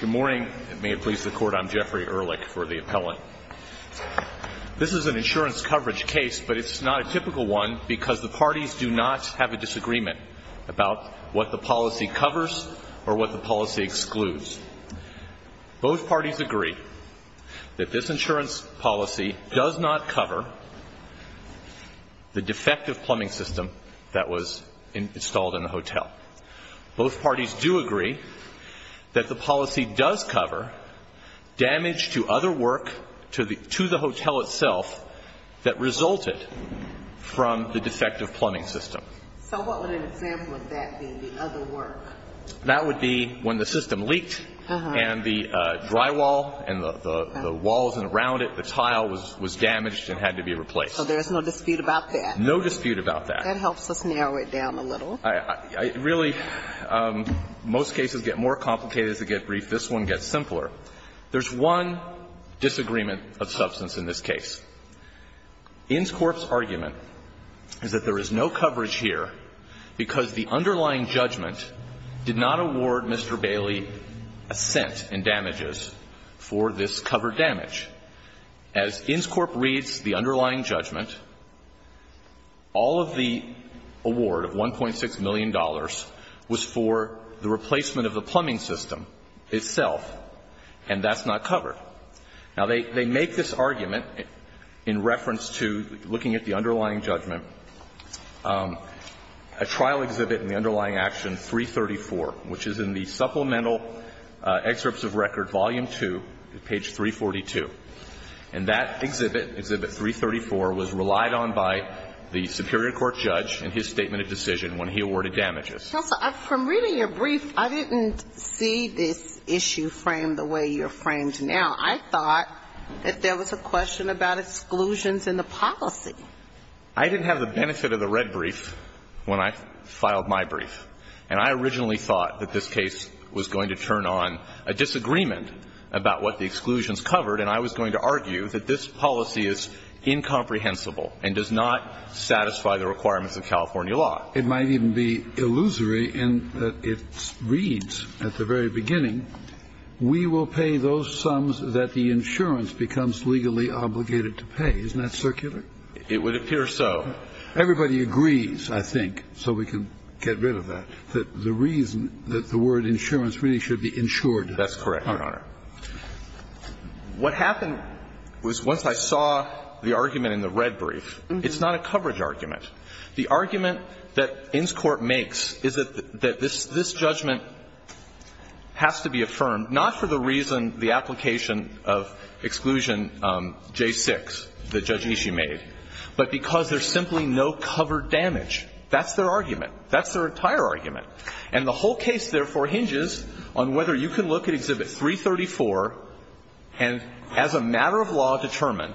Good morning, and may it please the Court, I'm Jeffrey Ehrlich for the Appellant. This is an insurance coverage case, but it's not a typical one because the parties do not have a disagreement about what the policy covers or what the policy excludes. Both parties agree that this insurance policy does not cover the defective plumbing system that was installed in the hotel. Both parties do agree that the policy does cover damage to other work to the hotel itself that resulted from the defective plumbing system. So what would an example of that be, the other work? That would be when the system leaked and the drywall and the walls around it, the tile was damaged and had to be replaced. So there's no dispute about that? No dispute about that. That helps us narrow it down a little. I really – most cases get more complicated as they get briefed. This one gets simpler. There's one disagreement of substance in this case. Innscorp's argument is that there is no coverage here because the underlying judgment did not award Mr. Bailey assent in damages for this covered damage. As Innscorp reads the underlying judgment, all of the award of $1.6 million was for the replacement of the plumbing system itself, and that's not covered. Now, they make this argument in reference to looking at the underlying judgment. A trial exhibit in the underlying action 334, which is in the Supplemental Record, Volume 2, page 342, and that exhibit, Exhibit 334, was relied on by the superior court judge in his statement of decision when he awarded damages. Counsel, from reading your brief, I didn't see this issue framed the way you're framed now. I thought that there was a question about exclusions in the policy. I didn't have the benefit of the red brief when I filed my brief. And I originally thought that this case was going to turn on a disagreement about what the exclusions covered, and I was going to argue that this policy is incomprehensible and does not satisfy the requirements of California law. It might even be illusory in that it reads at the very beginning, we will pay those sums that the insurance becomes legally obligated to pay. Isn't that circular? It would appear so. Everybody agrees, I think, so we can get rid of that, that the reason that the word insurance really should be insured. That's correct, Your Honor. What happened was once I saw the argument in the red brief, it's not a coverage argument. The argument that Inscorp makes is that this judgment has to be affirmed not for the reason, the application of Exclusion J6 that Judge Ishii made, but because there's simply no covered damage. That's their argument. That's their entire argument. And the whole case, therefore, hinges on whether you can look at Exhibit 334 and as a matter of law determine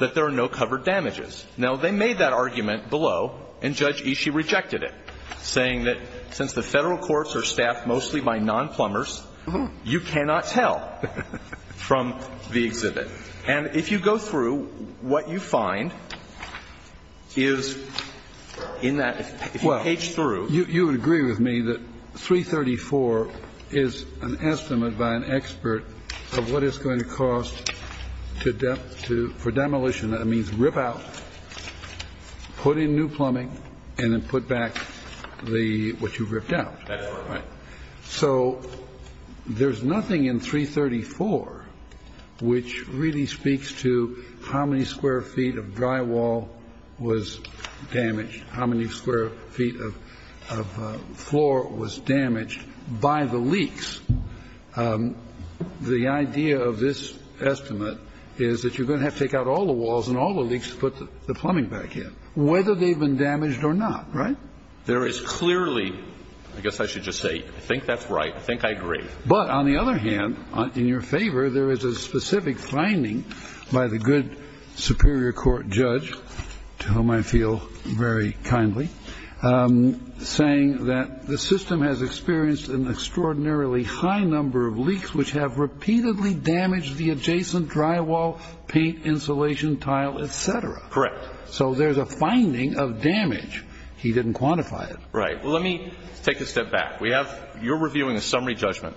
that there are no covered damages. Now, they made that argument below, and Judge Ishii rejected it, saying that since the Federal courts are staffed mostly by nonplumbers, you cannot tell from the exhibit. And if you go through, what you find is in that, if you page through. Well, you would agree with me that 334 is an estimate by an expert of what it's going to cost to demolition. That means rip out, put in new plumbing, and then put back the, what you've ripped out. That's right. So there's nothing in 334 which really speaks to how many square feet of drywall was damaged, how many square feet of floor was damaged by the leaks. The idea of this estimate is that you're going to have to take out all the walls and all the leaks to put the plumbing back in, whether they've been damaged or not, right? There is clearly, I guess I should just say, I think that's right. I think I agree. But on the other hand, in your favor, there is a specific finding by the good superior court judge, to whom I feel very kindly, saying that the system has experienced an extraordinarily high number of leaks which have repeatedly damaged the adjacent drywall, paint, insulation, tile, et cetera. Correct. So there's a finding of damage. He didn't quantify it. Right. Well, let me take a step back. We have, you're reviewing a summary judgment.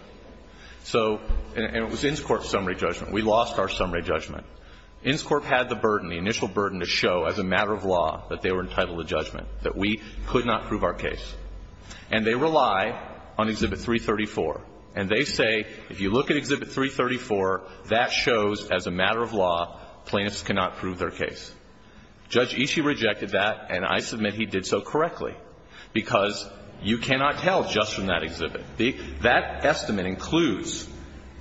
So, and it was Innscorp's summary judgment. We lost our summary judgment. Innscorp had the burden, the initial burden to show as a matter of law that they were entitled to judgment, that we could not prove our case. And they rely on Exhibit 334. And they say, if you look at Exhibit 334, that shows as a matter of law plaintiffs cannot prove their case. Judge Ishii rejected that, and I submit he did so correctly, because you cannot tell just from that exhibit. That estimate includes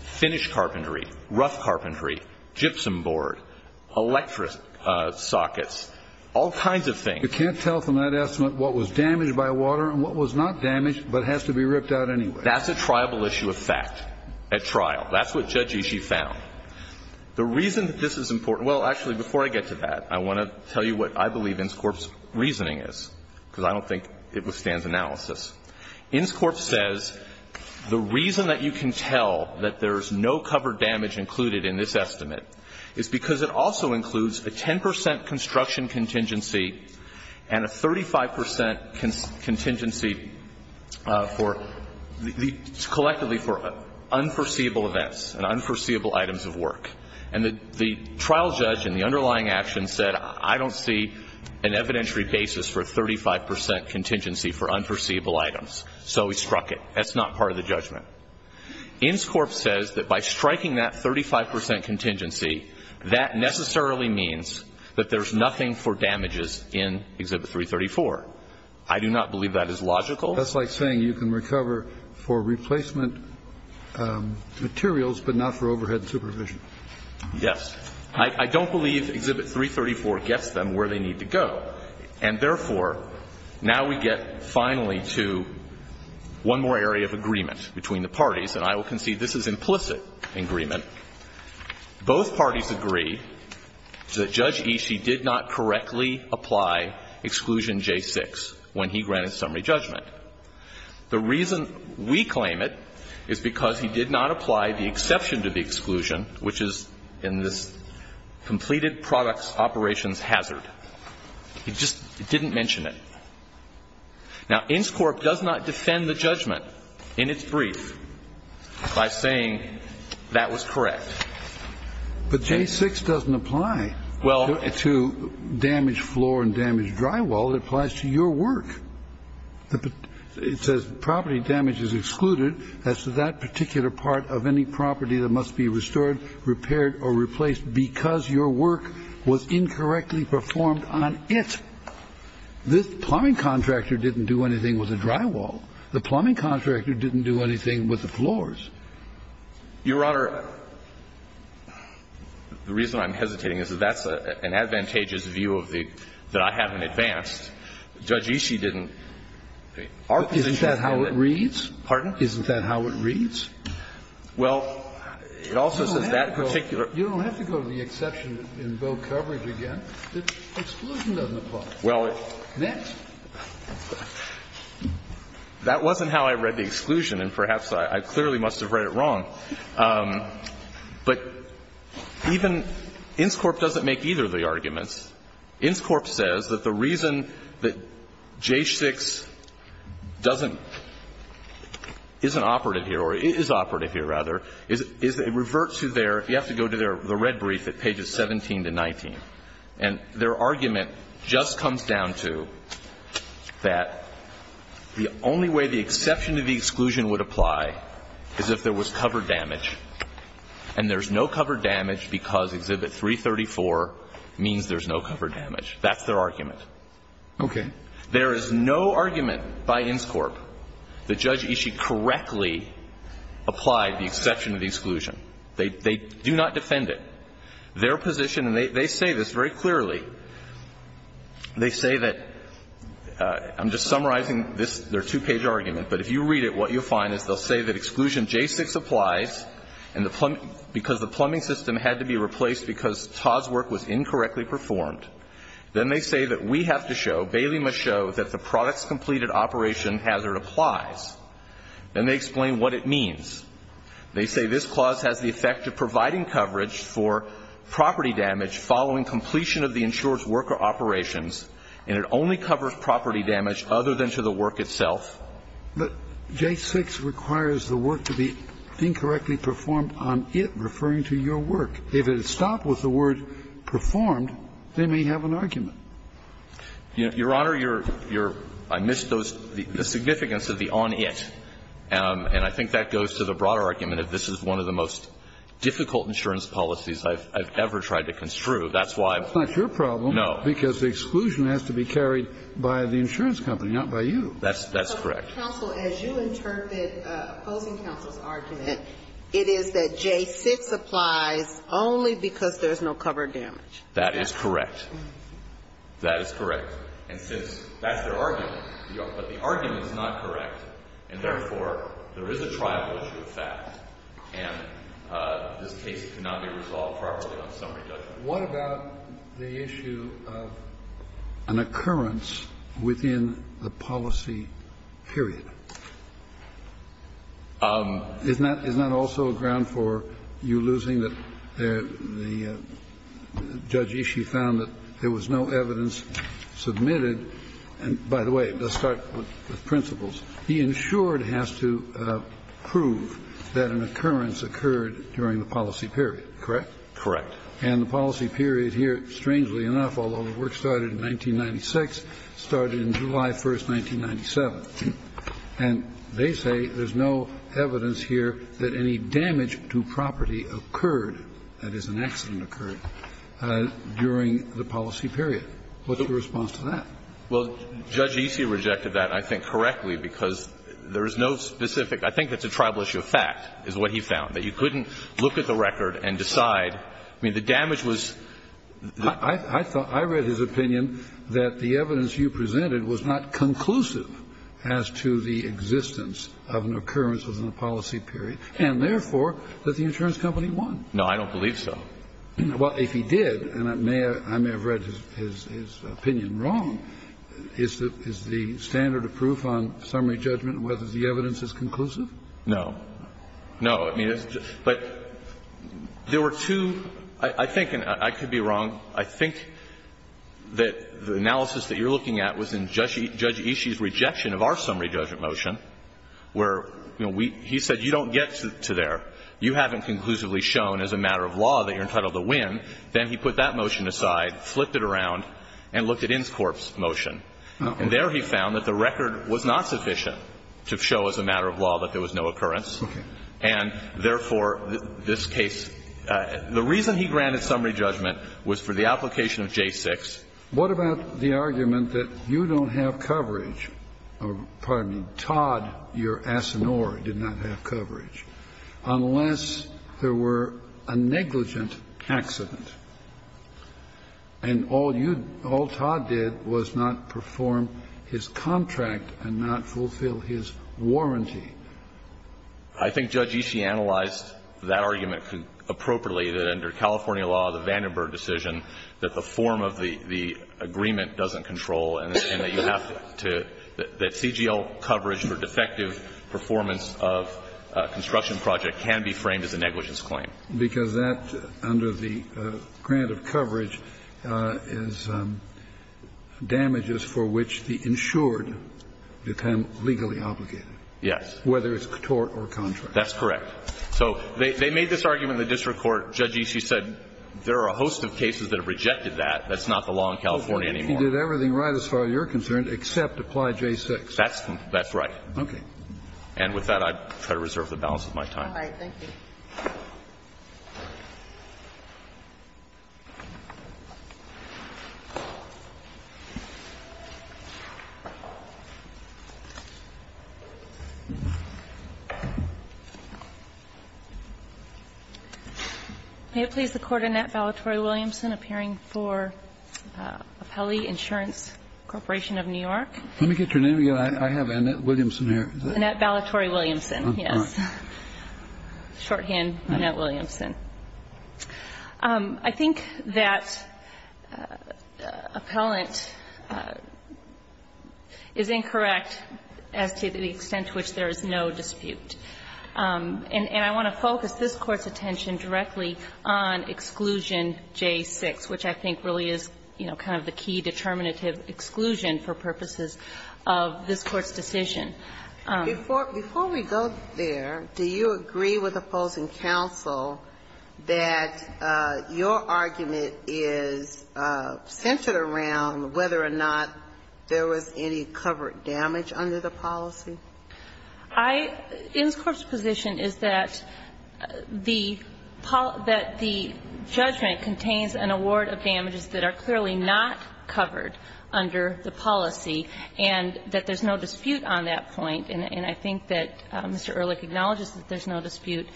finished carpentry, rough carpentry, gypsum board, electric sockets, all kinds of things. You can't tell from that estimate what was damaged by water and what was not damaged but has to be ripped out anyway. That's a triable issue of fact at trial. That's what Judge Ishii found. The reason that this is important – well, actually, before I get to that, I want to tell you what I believe Innscorp's reasoning is, because I don't think it withstands analysis. Innscorp says the reason that you can tell that there is no covered damage included in this estimate is because it also includes a 10 percent construction contingency and a 35 percent contingency for the – collectively for unforeseeable events and unforeseeable items of work. And the trial judge in the underlying action said, I don't see an evidentiary basis for a 35 percent contingency for unforeseeable items. So he struck it. That's not part of the judgment. Innscorp says that by striking that 35 percent contingency, that necessarily means that there's nothing for damages in Exhibit 334. I do not believe that is logical. That's like saying you can recover for replacement materials, but not for overhead supervision. Yes. I don't believe Exhibit 334 gets them where they need to go. And, therefore, now we get finally to one more area of agreement between the parties. And I will concede this is implicit agreement. Both parties agree that Judge Ishii did not correctly apply Exclusion J6 when he granted summary judgment. The reason we claim it is because he did not apply the exception to the exclusion, which is in this completed products operations hazard. He just didn't mention it. Now, Innscorp does not defend the judgment in its brief by saying that was correct. But J6 doesn't apply to damaged floor and damaged drywall. It applies to your work. It says property damage is excluded as to that particular part of any property that must be restored, repaired or replaced because your work was incorrectly performed on it. This plumbing contractor didn't do anything with the drywall. The plumbing contractor didn't do anything with the floors. Your Honor, the reason I'm hesitating is that that's an advantageous view of the that I haven't advanced. Judge Ishii didn't. Our position is that how it reads. Pardon? Isn't that how it reads? Well, it also says that particular. You don't have to go to the exception in both coverage again. Exclusion doesn't apply. Well, it's. Next. That wasn't how I read the exclusion, and perhaps I clearly must have read it wrong. But even Innscorp doesn't make either of the arguments. Innscorp says that the reason that J6 doesn't isn't operative here or is operative here rather is it reverts to their. You have to go to the red brief at pages 17 to 19, and their argument just comes down to that the only way the exception to the exclusion would apply is if there was covered damage. And there's no covered damage because Exhibit 334 means there's no covered damage. That's their argument. Okay. There is no argument by Innscorp that Judge Ishii correctly applied the exception to the exclusion. They do not defend it. Their position, and they say this very clearly, they say that I'm just summarizing this, their two-page argument, but if you read it, what you'll find is they'll say that exclusion J6 applies and because the plumbing system had to be replaced because Todd's work was incorrectly performed. Then they say that we have to show, Bailey must show, that the products-completed operation hazard applies. Then they explain what it means. They say this clause has the effect of providing coverage for property damage following completion of the insurer's work or operations, and it only covers property damage other than to the work itself. But J6 requires the work to be incorrectly performed on it, referring to your work. If it is stopped with the word performed, they may have an argument. Your Honor, your – I missed those – the significance of the on it, and I think that goes to the broader argument of this is one of the most difficult insurance policies I've ever tried to construe. That's why I'm – no. It's not your problem because the exclusion has to be carried by the insurance company, not by you. That's correct. But, counsel, as you interpret opposing counsel's argument, it is that J6 applies only because there's no coverage damage. That is correct. That is correct. And since that's their argument, but the argument is not correct, and therefore, there is a trial issue with that, and this case cannot be resolved properly on summary judgment. But what about the issue of an occurrence within the policy period? Isn't that also a ground for you losing that the judge issue found that there was no evidence submitted? And, by the way, let's start with principles. He ensured it has to prove that an occurrence occurred during the policy period, correct? Correct. And the policy period here, strangely enough, although the work started in 1996, started in July 1, 1997. And they say there's no evidence here that any damage to property occurred, that is, an accident occurred, during the policy period. What's the response to that? Well, Judge Isi rejected that, I think, correctly, because there is no specific – I think it's a tribal issue of fact, is what he found, that you couldn't look at the record and decide. I mean, the damage was the – I thought – I read his opinion that the evidence you presented was not conclusive as to the existence of an occurrence within the policy period, and therefore, that the insurance company won. No, I don't believe so. Well, if he did, and I may have read his opinion wrong, is the standard of proof on summary judgment whether the evidence is conclusive? No. No, I mean, it's just – but there were two – I think, and I could be wrong, I think that the analysis that you're looking at was in Judge Isi's rejection of our summary judgment motion, where, you know, we – he said, you don't get to there. You haven't conclusively shown as a matter of law that you're entitled to win. Then he put that motion aside, flipped it around, and looked at Inscorp's motion. And there he found that the record was not sufficient to show as a matter of law that there was no occurrence, and therefore, this case – the reason he granted summary judgment was for the application of J6. What about the argument that you don't have coverage – or, pardon me, Todd, your asinore, did not have coverage, unless there were a negligent accident, and all you – all Todd did was not perform his contract and not fulfill his warranty I think Judge Isi analyzed that argument appropriately, that under California law, the Vandenberg decision, that the form of the agreement doesn't control and that you have to – that CGL coverage for defective performance of a construction project can be framed as a negligence claim. Because that, under the grant of coverage, is damages for which the insured become legally obligated. Yes. Whether it's a tort or contract. That's correct. So they made this argument in the district court. Judge Isi said there are a host of cases that have rejected that. That's not the law in California anymore. He did everything right as far as you're concerned, except apply J6. That's right. Okay. And with that, I try to reserve the balance of my time. All right. Thank you. May it please the Court, Annette Valatori-Williamson, appearing for Appellee Insurance Corporation of New York. Let me get your name again. I have Annette Williamson here. Annette Valatori-Williamson, yes. Shorthand, Annette Williamson. I think that appellant is incorrect as to the extent to which there is no dispute. And I want to focus this Court's attention directly on exclusion J6, which I think really is, you know, kind of the key determinative exclusion for purposes of this Court's decision. Before we go there, do you agree with opposing counsel that your argument is centered around whether or not there was any covered damage under the policy? I think the Court's position is that the judgment contains an award of damages that are clearly not covered under the policy, and that there's no dispute on that point. And I think that Mr. Ehrlich acknowledges that there's no dispute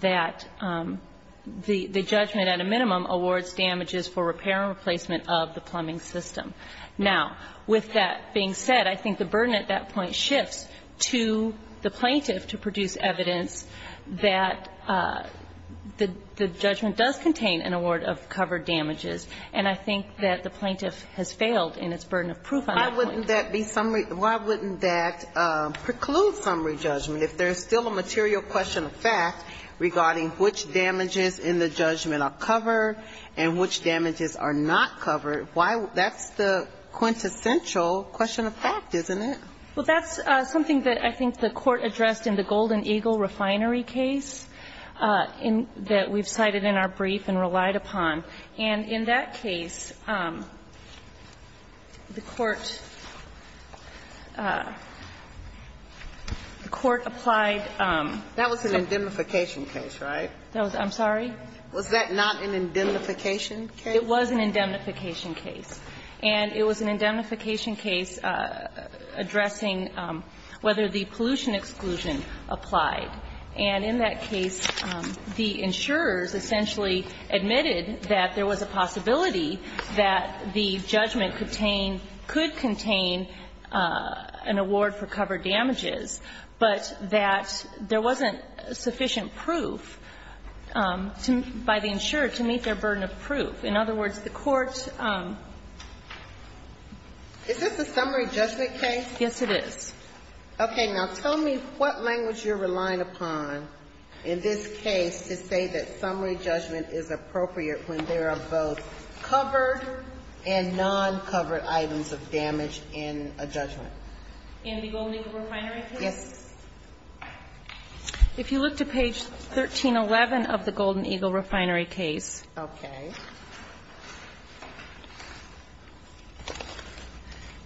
that the judgment at a minimum awards damages for repair and replacement of the plumbing system. Now, with that being said, I think the burden at that point shifts to the plaintiff to produce evidence that the judgment does contain an award of covered damages, and I think that the plaintiff has failed in its burden of proof on that point. Why wouldn't that be summary – why wouldn't that preclude summary judgment? If there's still a material question of fact regarding which damages in the judgment are covered and which damages are not covered, why – that's the quintessential question of fact, isn't it? Well, that's something that I think the Court addressed in the Golden Eagle refinery case that we've cited in our brief and relied upon. And in that case, the Court – the Court applied some – That was an indemnification case, right? I'm sorry? Was that not an indemnification case? It was an indemnification case. And it was an indemnification case addressing whether the pollution exclusion applied, and in that case, the insurers essentially admitted that there was a possibility that the judgment could contain – could contain an award for covered damages, but that there wasn't sufficient proof by the insurer to meet their burden of proof. In other words, the Court – Is this a summary judgment case? Yes, it is. Okay. Now, tell me what language you're relying upon in this case to say that summary judgment is appropriate when there are both covered and non-covered items of damage in a judgment. In the Golden Eagle refinery case? Yes. If you look to page 1311 of the Golden Eagle refinery case. Okay.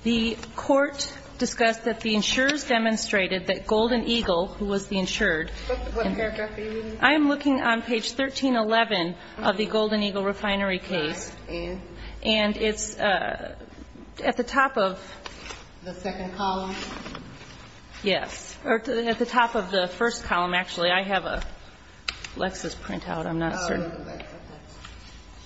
The Court discussed that the insurers demonstrated that Golden Eagle, who was the insured What paragraph are you looking at? I am looking on page 1311 of the Golden Eagle refinery case, and it's at the top of – The second column? Yes. Or at the top of the first column, actually. I have a Lexis printout. I'm not certain.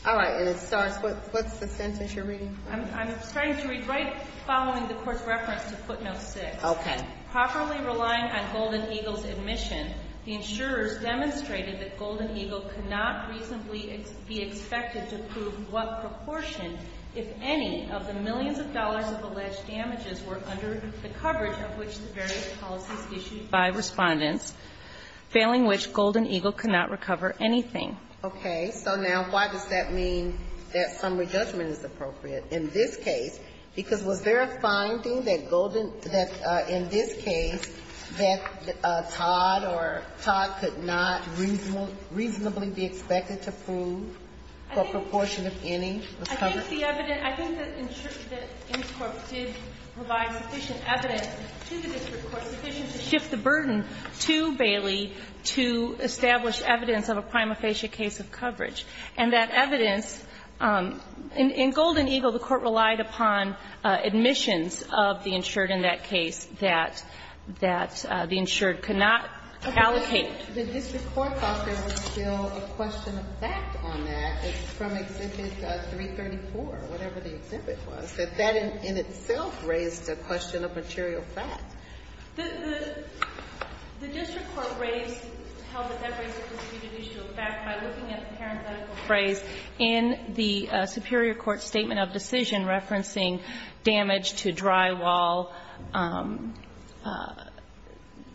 All right. And it starts with – what's the sentence you're reading? I'm starting to read right following the Court's reference to footnote 6. Okay. Properly relying on Golden Eagle's admission, the insurers demonstrated that Golden Eagle could not reasonably be expected to prove what proportion, if any, of the millions of dollars of alleged damages were under the coverage of which the various policies issued by Respondents, failing which Golden Eagle could not recover anything. Okay. So now, why does that mean that summary judgment is appropriate in this case? Because was there a finding that Golden – that in this case, that Todd or – Todd could not reasonably be expected to prove what proportion, if any, of the coverage? I think the evidence – I think that the insurers did provide sufficient evidence to the district court, sufficient to shift the burden to Bailey to establish evidence of a prima facie case of coverage, and that evidence – in Golden Eagle, the Court relied upon admissions of the insured in that case that – that the insured could not allocate. The district court thought there was still a question of fact on that from Exhibit 334, whatever the exhibit was, that that in itself raised a question of material fact. The – the district court raised – held that that raised a question of fact by looking at the parenthetical phrase in the superior court's statement of decision referencing damage to drywall,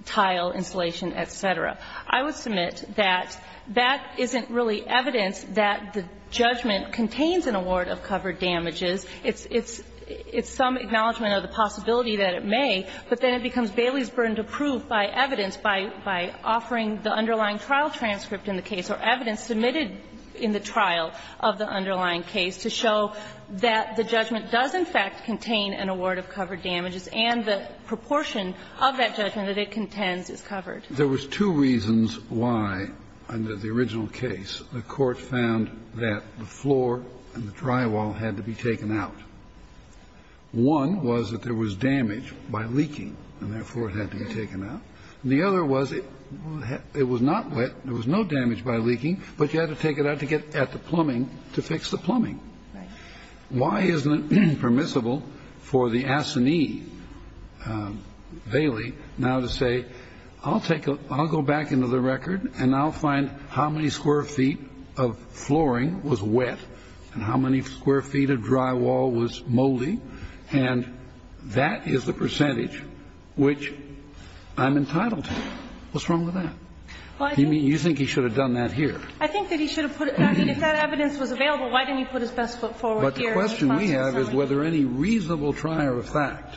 tile, insulation, et cetera. I would submit that that isn't really evidence that the judgment contains an award of covered damages. It's – it's – it's some acknowledgment of the possibility that it may, but then it becomes Bailey's burden to prove by evidence, by – by offering the underlying trial transcript in the case or evidence submitted in the trial of the underlying case to show that the judgment does, in fact, contain an award of covered damages and the proportion of that judgment that it contends is covered. There was two reasons why, under the original case, the Court found that the floor and the drywall had to be taken out. One was that there was damage by leaking, and therefore it had to be taken out. And the other was it – it was not wet, there was no damage by leaking, but you had to take it out to get at the plumbing to fix the plumbing. Why isn't it permissible for the assignee, Bailey, now to say, I'll take a – I'll go back into the record and I'll find how many square feet of flooring was wet and how many square feet of drywall was moldy, and that is the percentage which I'm entitled to. What's wrong with that? You mean you think he should have done that here? I think that he should have put it – I mean, if that evidence was available, why didn't he put his best foot forward here and apply it to the assignee? But the question we have is whether any reasonable trier of fact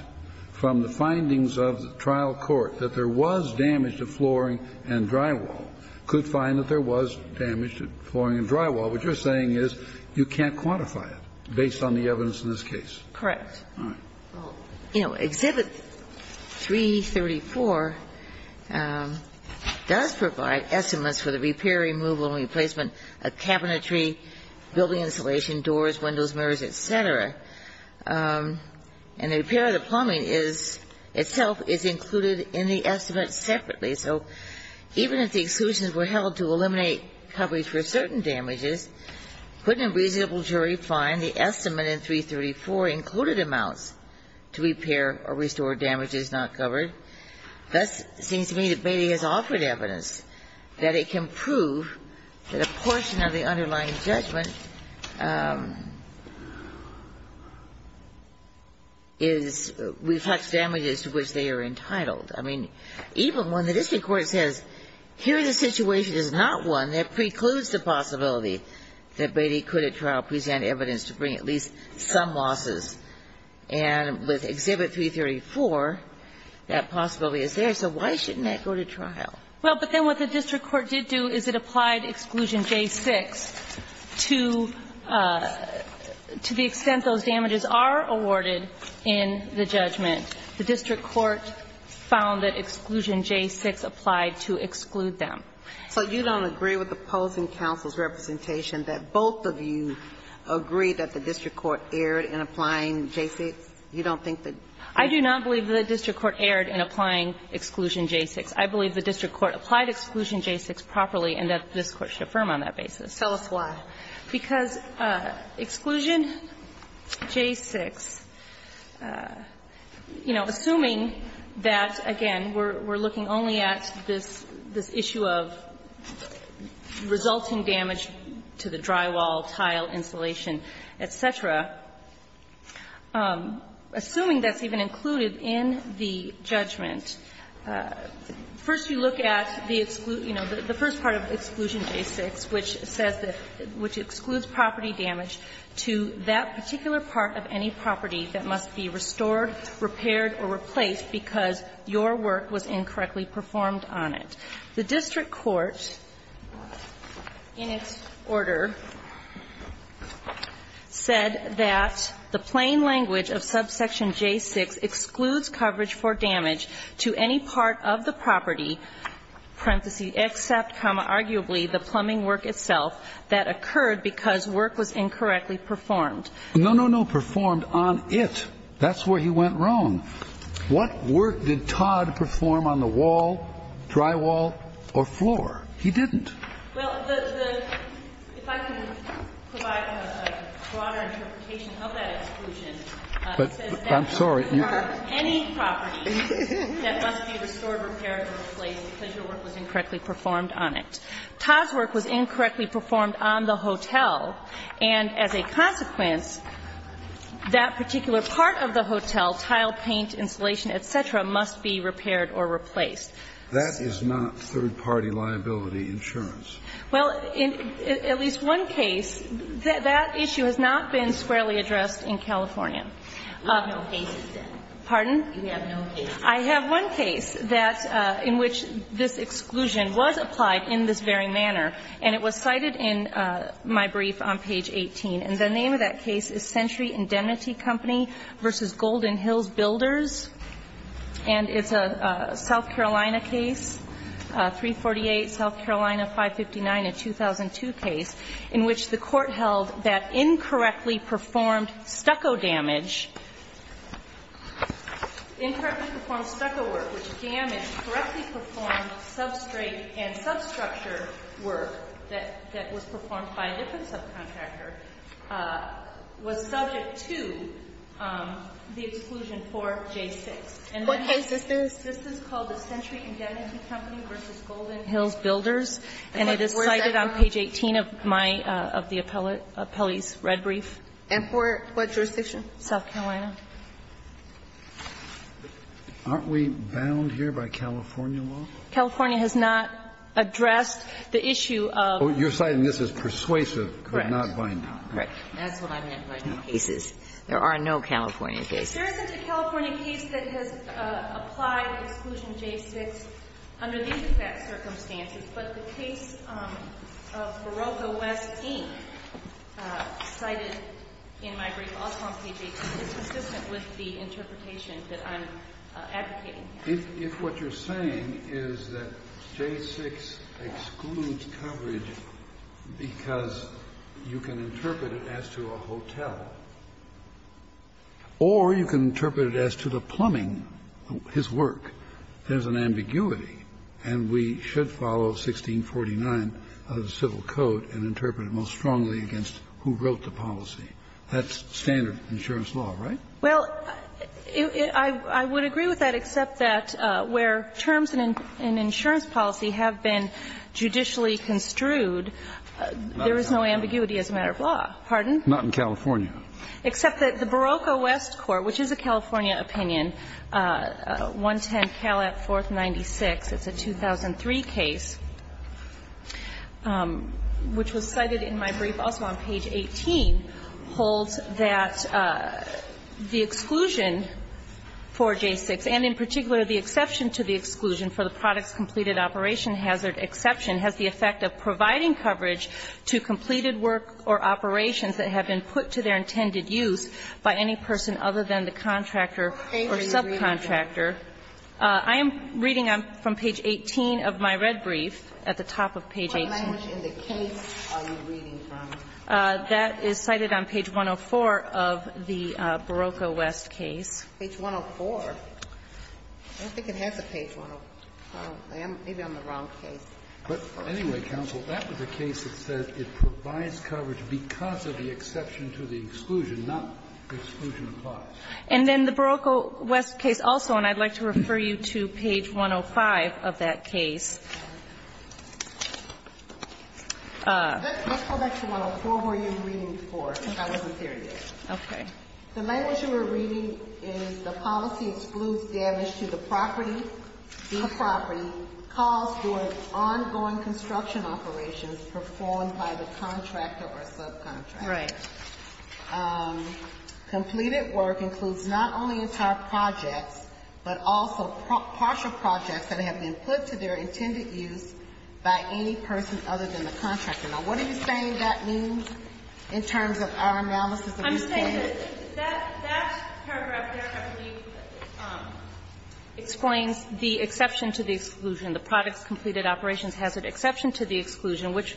from the findings of the trial court, that there was damage to flooring and drywall, could find that there was damage to flooring and drywall. What you're saying is you can't quantify it based on the evidence in this case. Correct. All right. Well, you know, Exhibit 334 does provide estimates for the repair, removal and replacement of cabinetry, building insulation, doors, windows, mirrors, et cetera. And the repair of the plumbing is – itself is included in the estimate separately. So even if the exclusions were held to eliminate coverage for certain damages, couldn't a reasonable jury find the estimate in 334 included amounts to repair or restore damage that is not covered? Thus, it seems to me that Beatty has offered evidence that it can prove that a portion of the underlying judgment is – reflects damages to which they are entitled. I mean, even when the district court says, here the situation is not one that precludes the possibility that Beatty could at trial present evidence to bring at least some losses, and with Exhibit 334, that possibility is there, so why shouldn't that go to trial? Well, but then what the district court did do is it applied Exclusion J6 to the extent those damages are awarded in the judgment. The district court found that Exclusion J6 applied to exclude them. So you don't agree with opposing counsel's representation that both of you agree that the district court erred in applying J6? You don't think that the district court erred in applying Exclusion J6? I believe the district court applied Exclusion J6 properly and that this Court should affirm on that basis. Tell us why. Because Exclusion J6, you know, assuming that, again, we're looking only at this issue of resulting damage to the drywall, tile, insulation, et cetera, assuming that's even included in the judgment, first you look at the exclude, you know, the first part of Exclusion J6, which says that, which excludes property damage to that particular part of any property that must be restored, repaired, or replaced because your work was incorrectly performed on it, the district court in its order said that the plain language of Subsection J6 excludes coverage for damage to any part of the property, parenthesis, except, comma, arguably, the plumbing work itself that occurred because work was incorrectly performed. No, no, no, performed on it. That's where he went wrong. What work did Todd perform on the wall, drywall, or floor? He didn't. Well, the, the, if I can provide a broader interpretation of that exclusion, it says that any property that must be restored, repaired, or replaced because your work was incorrectly performed on it. Todd's work was incorrectly performed on the hotel. And as a consequence, that particular part of the hotel, tile, paint, insulation, et cetera, must be repaired or replaced. That is not third-party liability insurance. Well, in at least one case, that issue has not been squarely addressed in California. You have no cases, then. Pardon? You have no cases. I have one case that, in which this exclusion was applied in this very manner, and it was cited in my brief on page 18. And the name of that case is Century Indemnity Company v. Golden Hills Builders. And it's a South Carolina case, 348 South Carolina 559, a 2002 case, in which the court held that incorrectly performed stucco damage, incorrectly performed stucco work, which damaged correctly performed substrate and substructure work that was performed by a different subcontractor, was subject to the exclusion for J6. What case is this? This is called the Century Indemnity Company v. Golden Hills Builders. And it is cited on page 18 of my of the appellee's red brief. And for what jurisdiction? South Carolina. Aren't we bound here by California law? California has not addressed the issue of. You're citing this as persuasive, but not binding. Correct. That's what I meant by no cases. There are no California cases. There isn't a California case that has applied exclusion J6 under these circumstances. But the case of Barocco West, Inc. cited in my brief also on page 18 is consistent with the interpretation that I'm advocating. If what you're saying is that J6 excludes coverage because you can interpret it as to a hotel. Or you can interpret it as to the plumbing, his work. There's an ambiguity. And we should follow 1649 of the Civil Code and interpret it most strongly against who wrote the policy. That's standard insurance law, right? Well, I would agree with that, except that where terms in insurance policy have been judicially construed, there is no ambiguity as a matter of law. Pardon? Not in California. Except that the Barocco West Court, which is a California opinion, 110 Calat 4th 96, it's a 2003 case, which was cited in my brief also on page 18, holds that the exclusion for J6 and in particular the exception to the exclusion for the products completed operation hazard exception has the effect of providing coverage to completed work or operations that have been put to their intended use by any person other than the contractor or subcontractor. I am reading from page 18 of my red brief at the top of page 18. What language in the case are you reading from? That is cited on page 104 of the Barocco West case. Page 104? I don't think it has a page 104. Maybe I'm on the wrong case. But anyway, counsel, that was a case that said it provides coverage because of the exception to the exclusion, not exclusion clause. And then the Barocco West case also, and I'd like to refer you to page 105 of that case. Let's go back to 104 where you're reading from. I wasn't there yet. Okay. The language you were reading is the policy excludes damage to the property caused during ongoing construction operations performed by the contractor or subcontractor. Right. Completed work includes not only entire projects but also partial projects that have been put to their intended use by any person other than the contractor. Now, what are you saying that means in terms of our analysis of these cases? I'm saying that that paragraph there, I believe, explains the exception to the exclusion. The products completed operations has an exception to the exclusion, which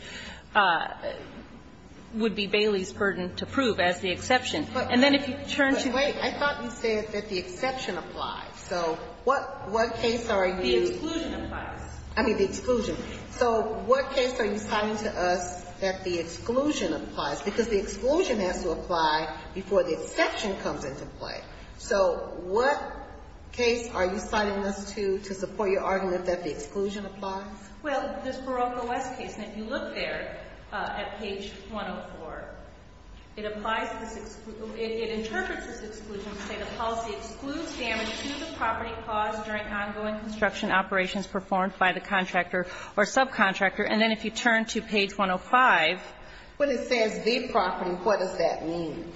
would be Bailey's burden to prove as the exception. And then if you turn to the other one. But wait. I thought you said that the exception applies. So what case are you? The exclusion applies. I mean, the exclusion. So what case are you citing to us that the exclusion applies? Because the exclusion has to apply before the exception comes into play. So what case are you citing us to to support your argument that the exclusion applies? Well, this Barocco West case. And if you look there at page 104, it applies to this exclusion. It interprets this exclusion to say the policy excludes damage to the property caused during ongoing construction operations performed by the contractor or subcontractor. And then if you turn to page 105. When it says the property, what does that mean?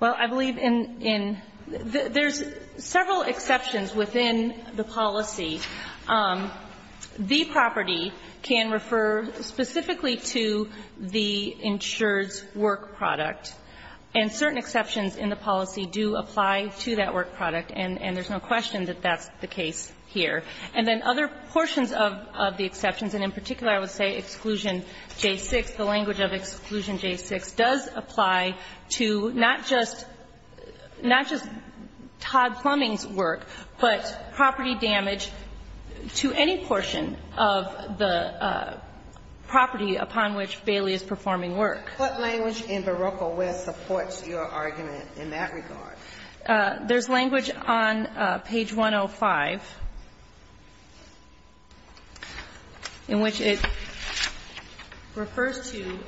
Well, I believe in there's several exceptions within the policy. The property can refer specifically to the insured's work product. And certain exceptions in the policy do apply to that work product. And there's no question that that's the case here. And then other portions of the exceptions. And in particular, I would say exclusion J6. The language of exclusion J6 does apply to not just Todd Plumbing's work, but property damage to any portion of the property upon which Bailey is performing work. What language in Barocco West supports your argument in that regard? There's language on page 105 in which it refers to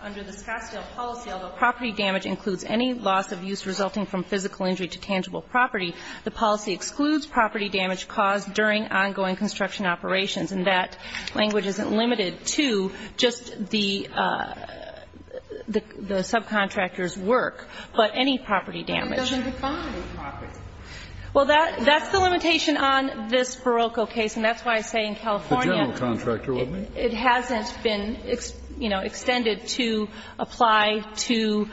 under the Scottsdale policy, although property damage includes any loss of use resulting from physical injury to tangible property, the policy excludes property damage caused during ongoing construction operations. And that language isn't limited to just the subcontractor's work, but any property damage. But it doesn't define property. Well, that's the limitation on this Barocco case. And that's why I say in California it hasn't been extended to apply to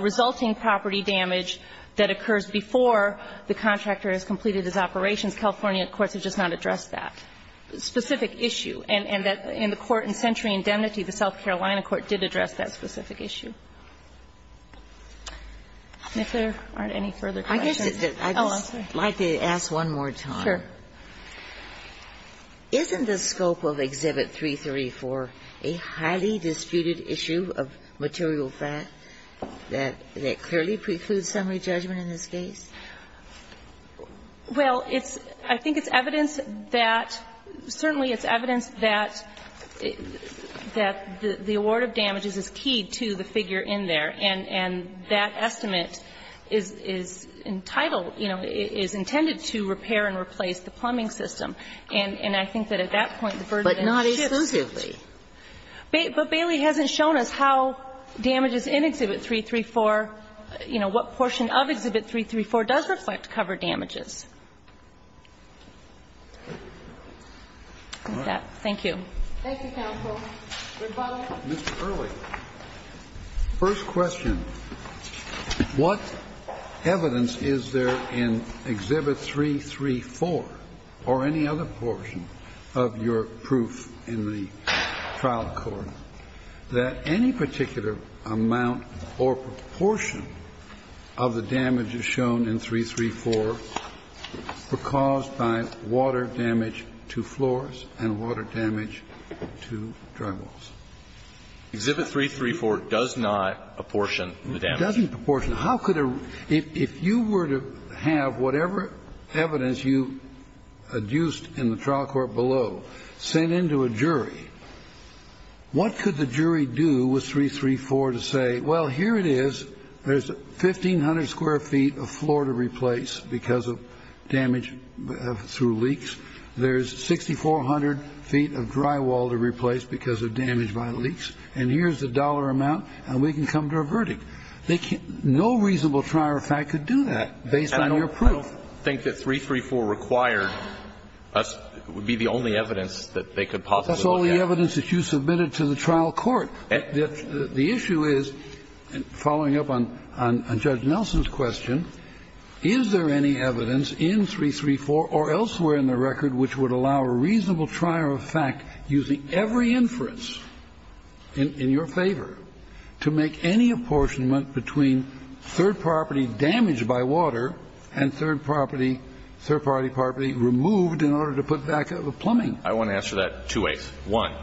resulting property damage that occurs before the contractor has completed his operations. California courts have just not addressed that. It's a specific issue. And that in the court in Century Indemnity, the South Carolina court did address that specific issue. And if there aren't any further questions. Oh, I'm sorry. I'd just like to ask one more time. Sure. Isn't the scope of Exhibit 334 a highly disputed issue of material fact that clearly precludes summary judgment in this case? Well, it's – I think it's evidence that – certainly it's evidence that the award of damages is key to the figure in there. And that estimate is entitled, you know, is intended to repair and replace the plumbing system. And I think that at that point the burden shifts. But not exclusively. But Bailey hasn't shown us how damages in Exhibit 334, you know, what portion of Exhibit 334 does reflect cover damages. Okay. Thank you. Thank you, counsel. Mr. Early. First question. What evidence is there in Exhibit 334 or any other portion of your proof in the trial cover damages? The evidence in Exhibit 334 is that the damages shown in 334 were caused by water damage to floors and water damage to drywalls. Exhibit 334 does not apportion the damages. It doesn't apportion. How could a – if you were to have whatever evidence you adduced in the trial court below sent into a jury, what could the jury do with 334 to say, well, here it is, there's 1,500 square feet of floor to replace because of damage through leaks. There's 6,400 feet of drywall to replace because of damage by leaks. And here's the dollar amount, and we can come to a verdict. They can't – no reasonable trier of fact could do that based on your proof. I don't think that 334 required us – would be the only evidence that they could possibly look at. That's all the evidence that you submitted to the trial court. The issue is, following up on Judge Nelson's question, is there any evidence in 334 or elsewhere in the record which would allow a reasonable trier of fact using every inference in your favor to make any apportionment between third property damaged by water and third property – third-party property removed in order to put back the plumbing? I want to answer that two ways. One,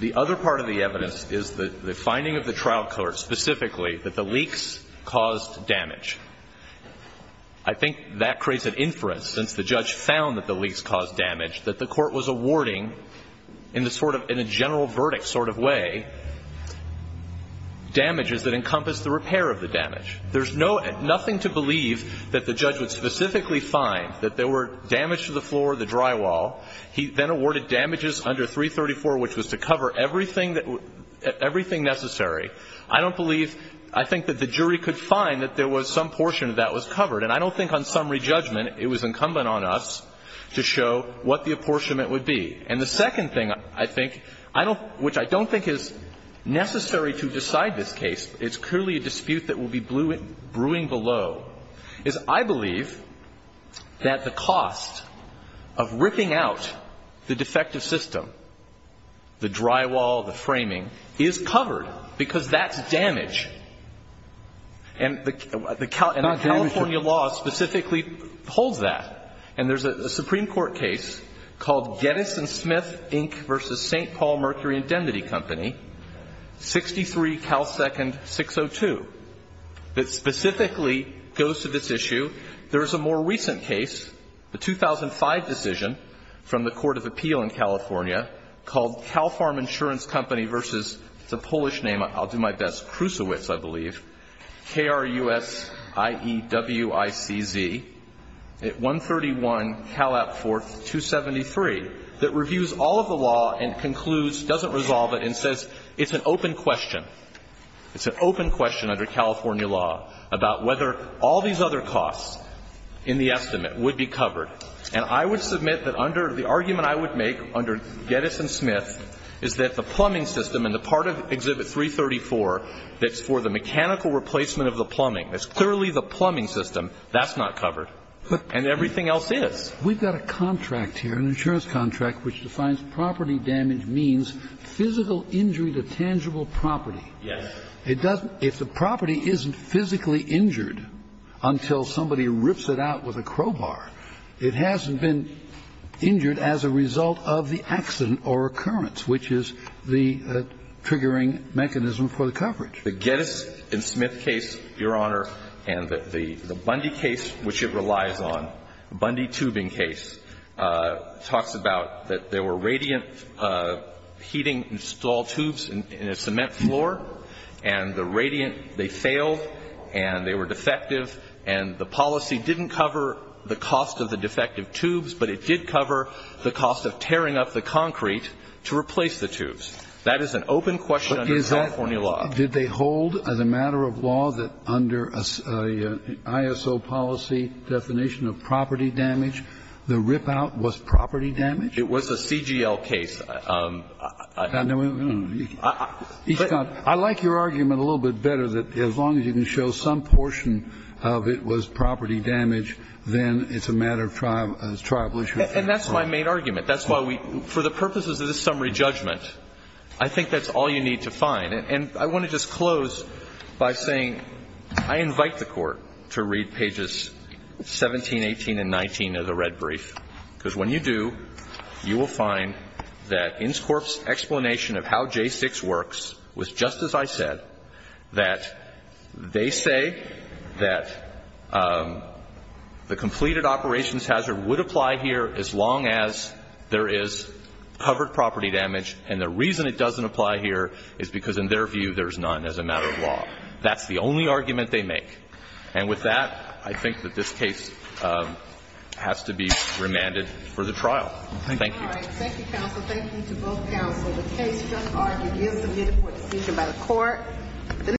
the other part of the evidence is the finding of the trial court specifically that the leaks caused damage. I think that creates an inference, since the judge found that the leaks caused damage, that the court was awarding in the sort of – in a general verdict sort of way damages that encompass the repair of the damage. There's no – nothing to believe that the judge would specifically find that there were damage to the floor or the drywall. He then awarded damages under 334, which was to cover everything that – everything necessary. I don't believe – I think that the jury could find that there was some portion of that was covered. And I don't think on summary judgment it was incumbent on us to show what the apportionment would be. And the second thing I think I don't – which I don't think is necessary to decide this case. It's clearly a dispute that will be brewing below, is I believe that the cost of ripping out the defective system, the drywall, the framing, is covered, because that's damage. And the California law specifically holds that. And there's a Supreme Court case called Geddes & Smith, Inc. v. St. Paul Mercury Indemnity Company, 63 Cal. 2nd. 602, that specifically goes to this issue. There is a more recent case, a 2005 decision from the Court of Appeal in California called Cal Farm Insurance Company v. – it's a Polish name. I'll do my best. Krusewicz, I believe. K-r-u-s-i-e-w-i-c-z at 131 Cal. 4th. 273, that reviews all of the law and concludes – doesn't resolve it and says it's an open question. It's an open question under California law about whether all these other costs in the estimate would be covered. And I would submit that under – the argument I would make under Geddes & Smith is that the plumbing system in the part of Exhibit 334 that's for the mechanical replacement of the plumbing, that's clearly the plumbing system, that's not covered. And everything else is. We've got a contract here, an insurance contract, which defines property damage means physical injury to tangible property. Yes. It doesn't – if the property isn't physically injured until somebody rips it out with a crowbar, it hasn't been injured as a result of the accident or occurrence, which is the triggering mechanism for the coverage. The Geddes & Smith case, Your Honor, and the Bundy case, which it relies on, Bundy tubing case, talks about that there were radiant heating installed tubes in a cement floor and the radiant – they failed and they were defective and the policy didn't cover the cost of the defective tubes, but it did cover the cost of tearing up the concrete to replace the tubes. That is an open question under California law. Did they hold, as a matter of law, that under an ISO policy definition of property damage, the rip-out was property damage? It was a CGL case. I like your argument a little bit better that as long as you can show some portion of it was property damage, then it's a matter of tribal issue. And that's my main argument. That's why we – for the purposes of this summary judgment, I think that's all you need to find. And I want to just close by saying I invite the Court to read pages 17, 18, and 19 of the red brief, because when you do, you will find that Inscorp's explanation of how J6 works was just as I said, that they say that the completed operations hazard would apply here as long as there is covered property damage. And the reason it doesn't apply here is because in their view, there's none as a matter of law. That's the only argument they make. And with that, I think that this case has to be remanded for the trial. Thank you. All right. Thank you, counsel. Thank you to both counsel. The case just argued is submitted for decision by the Court.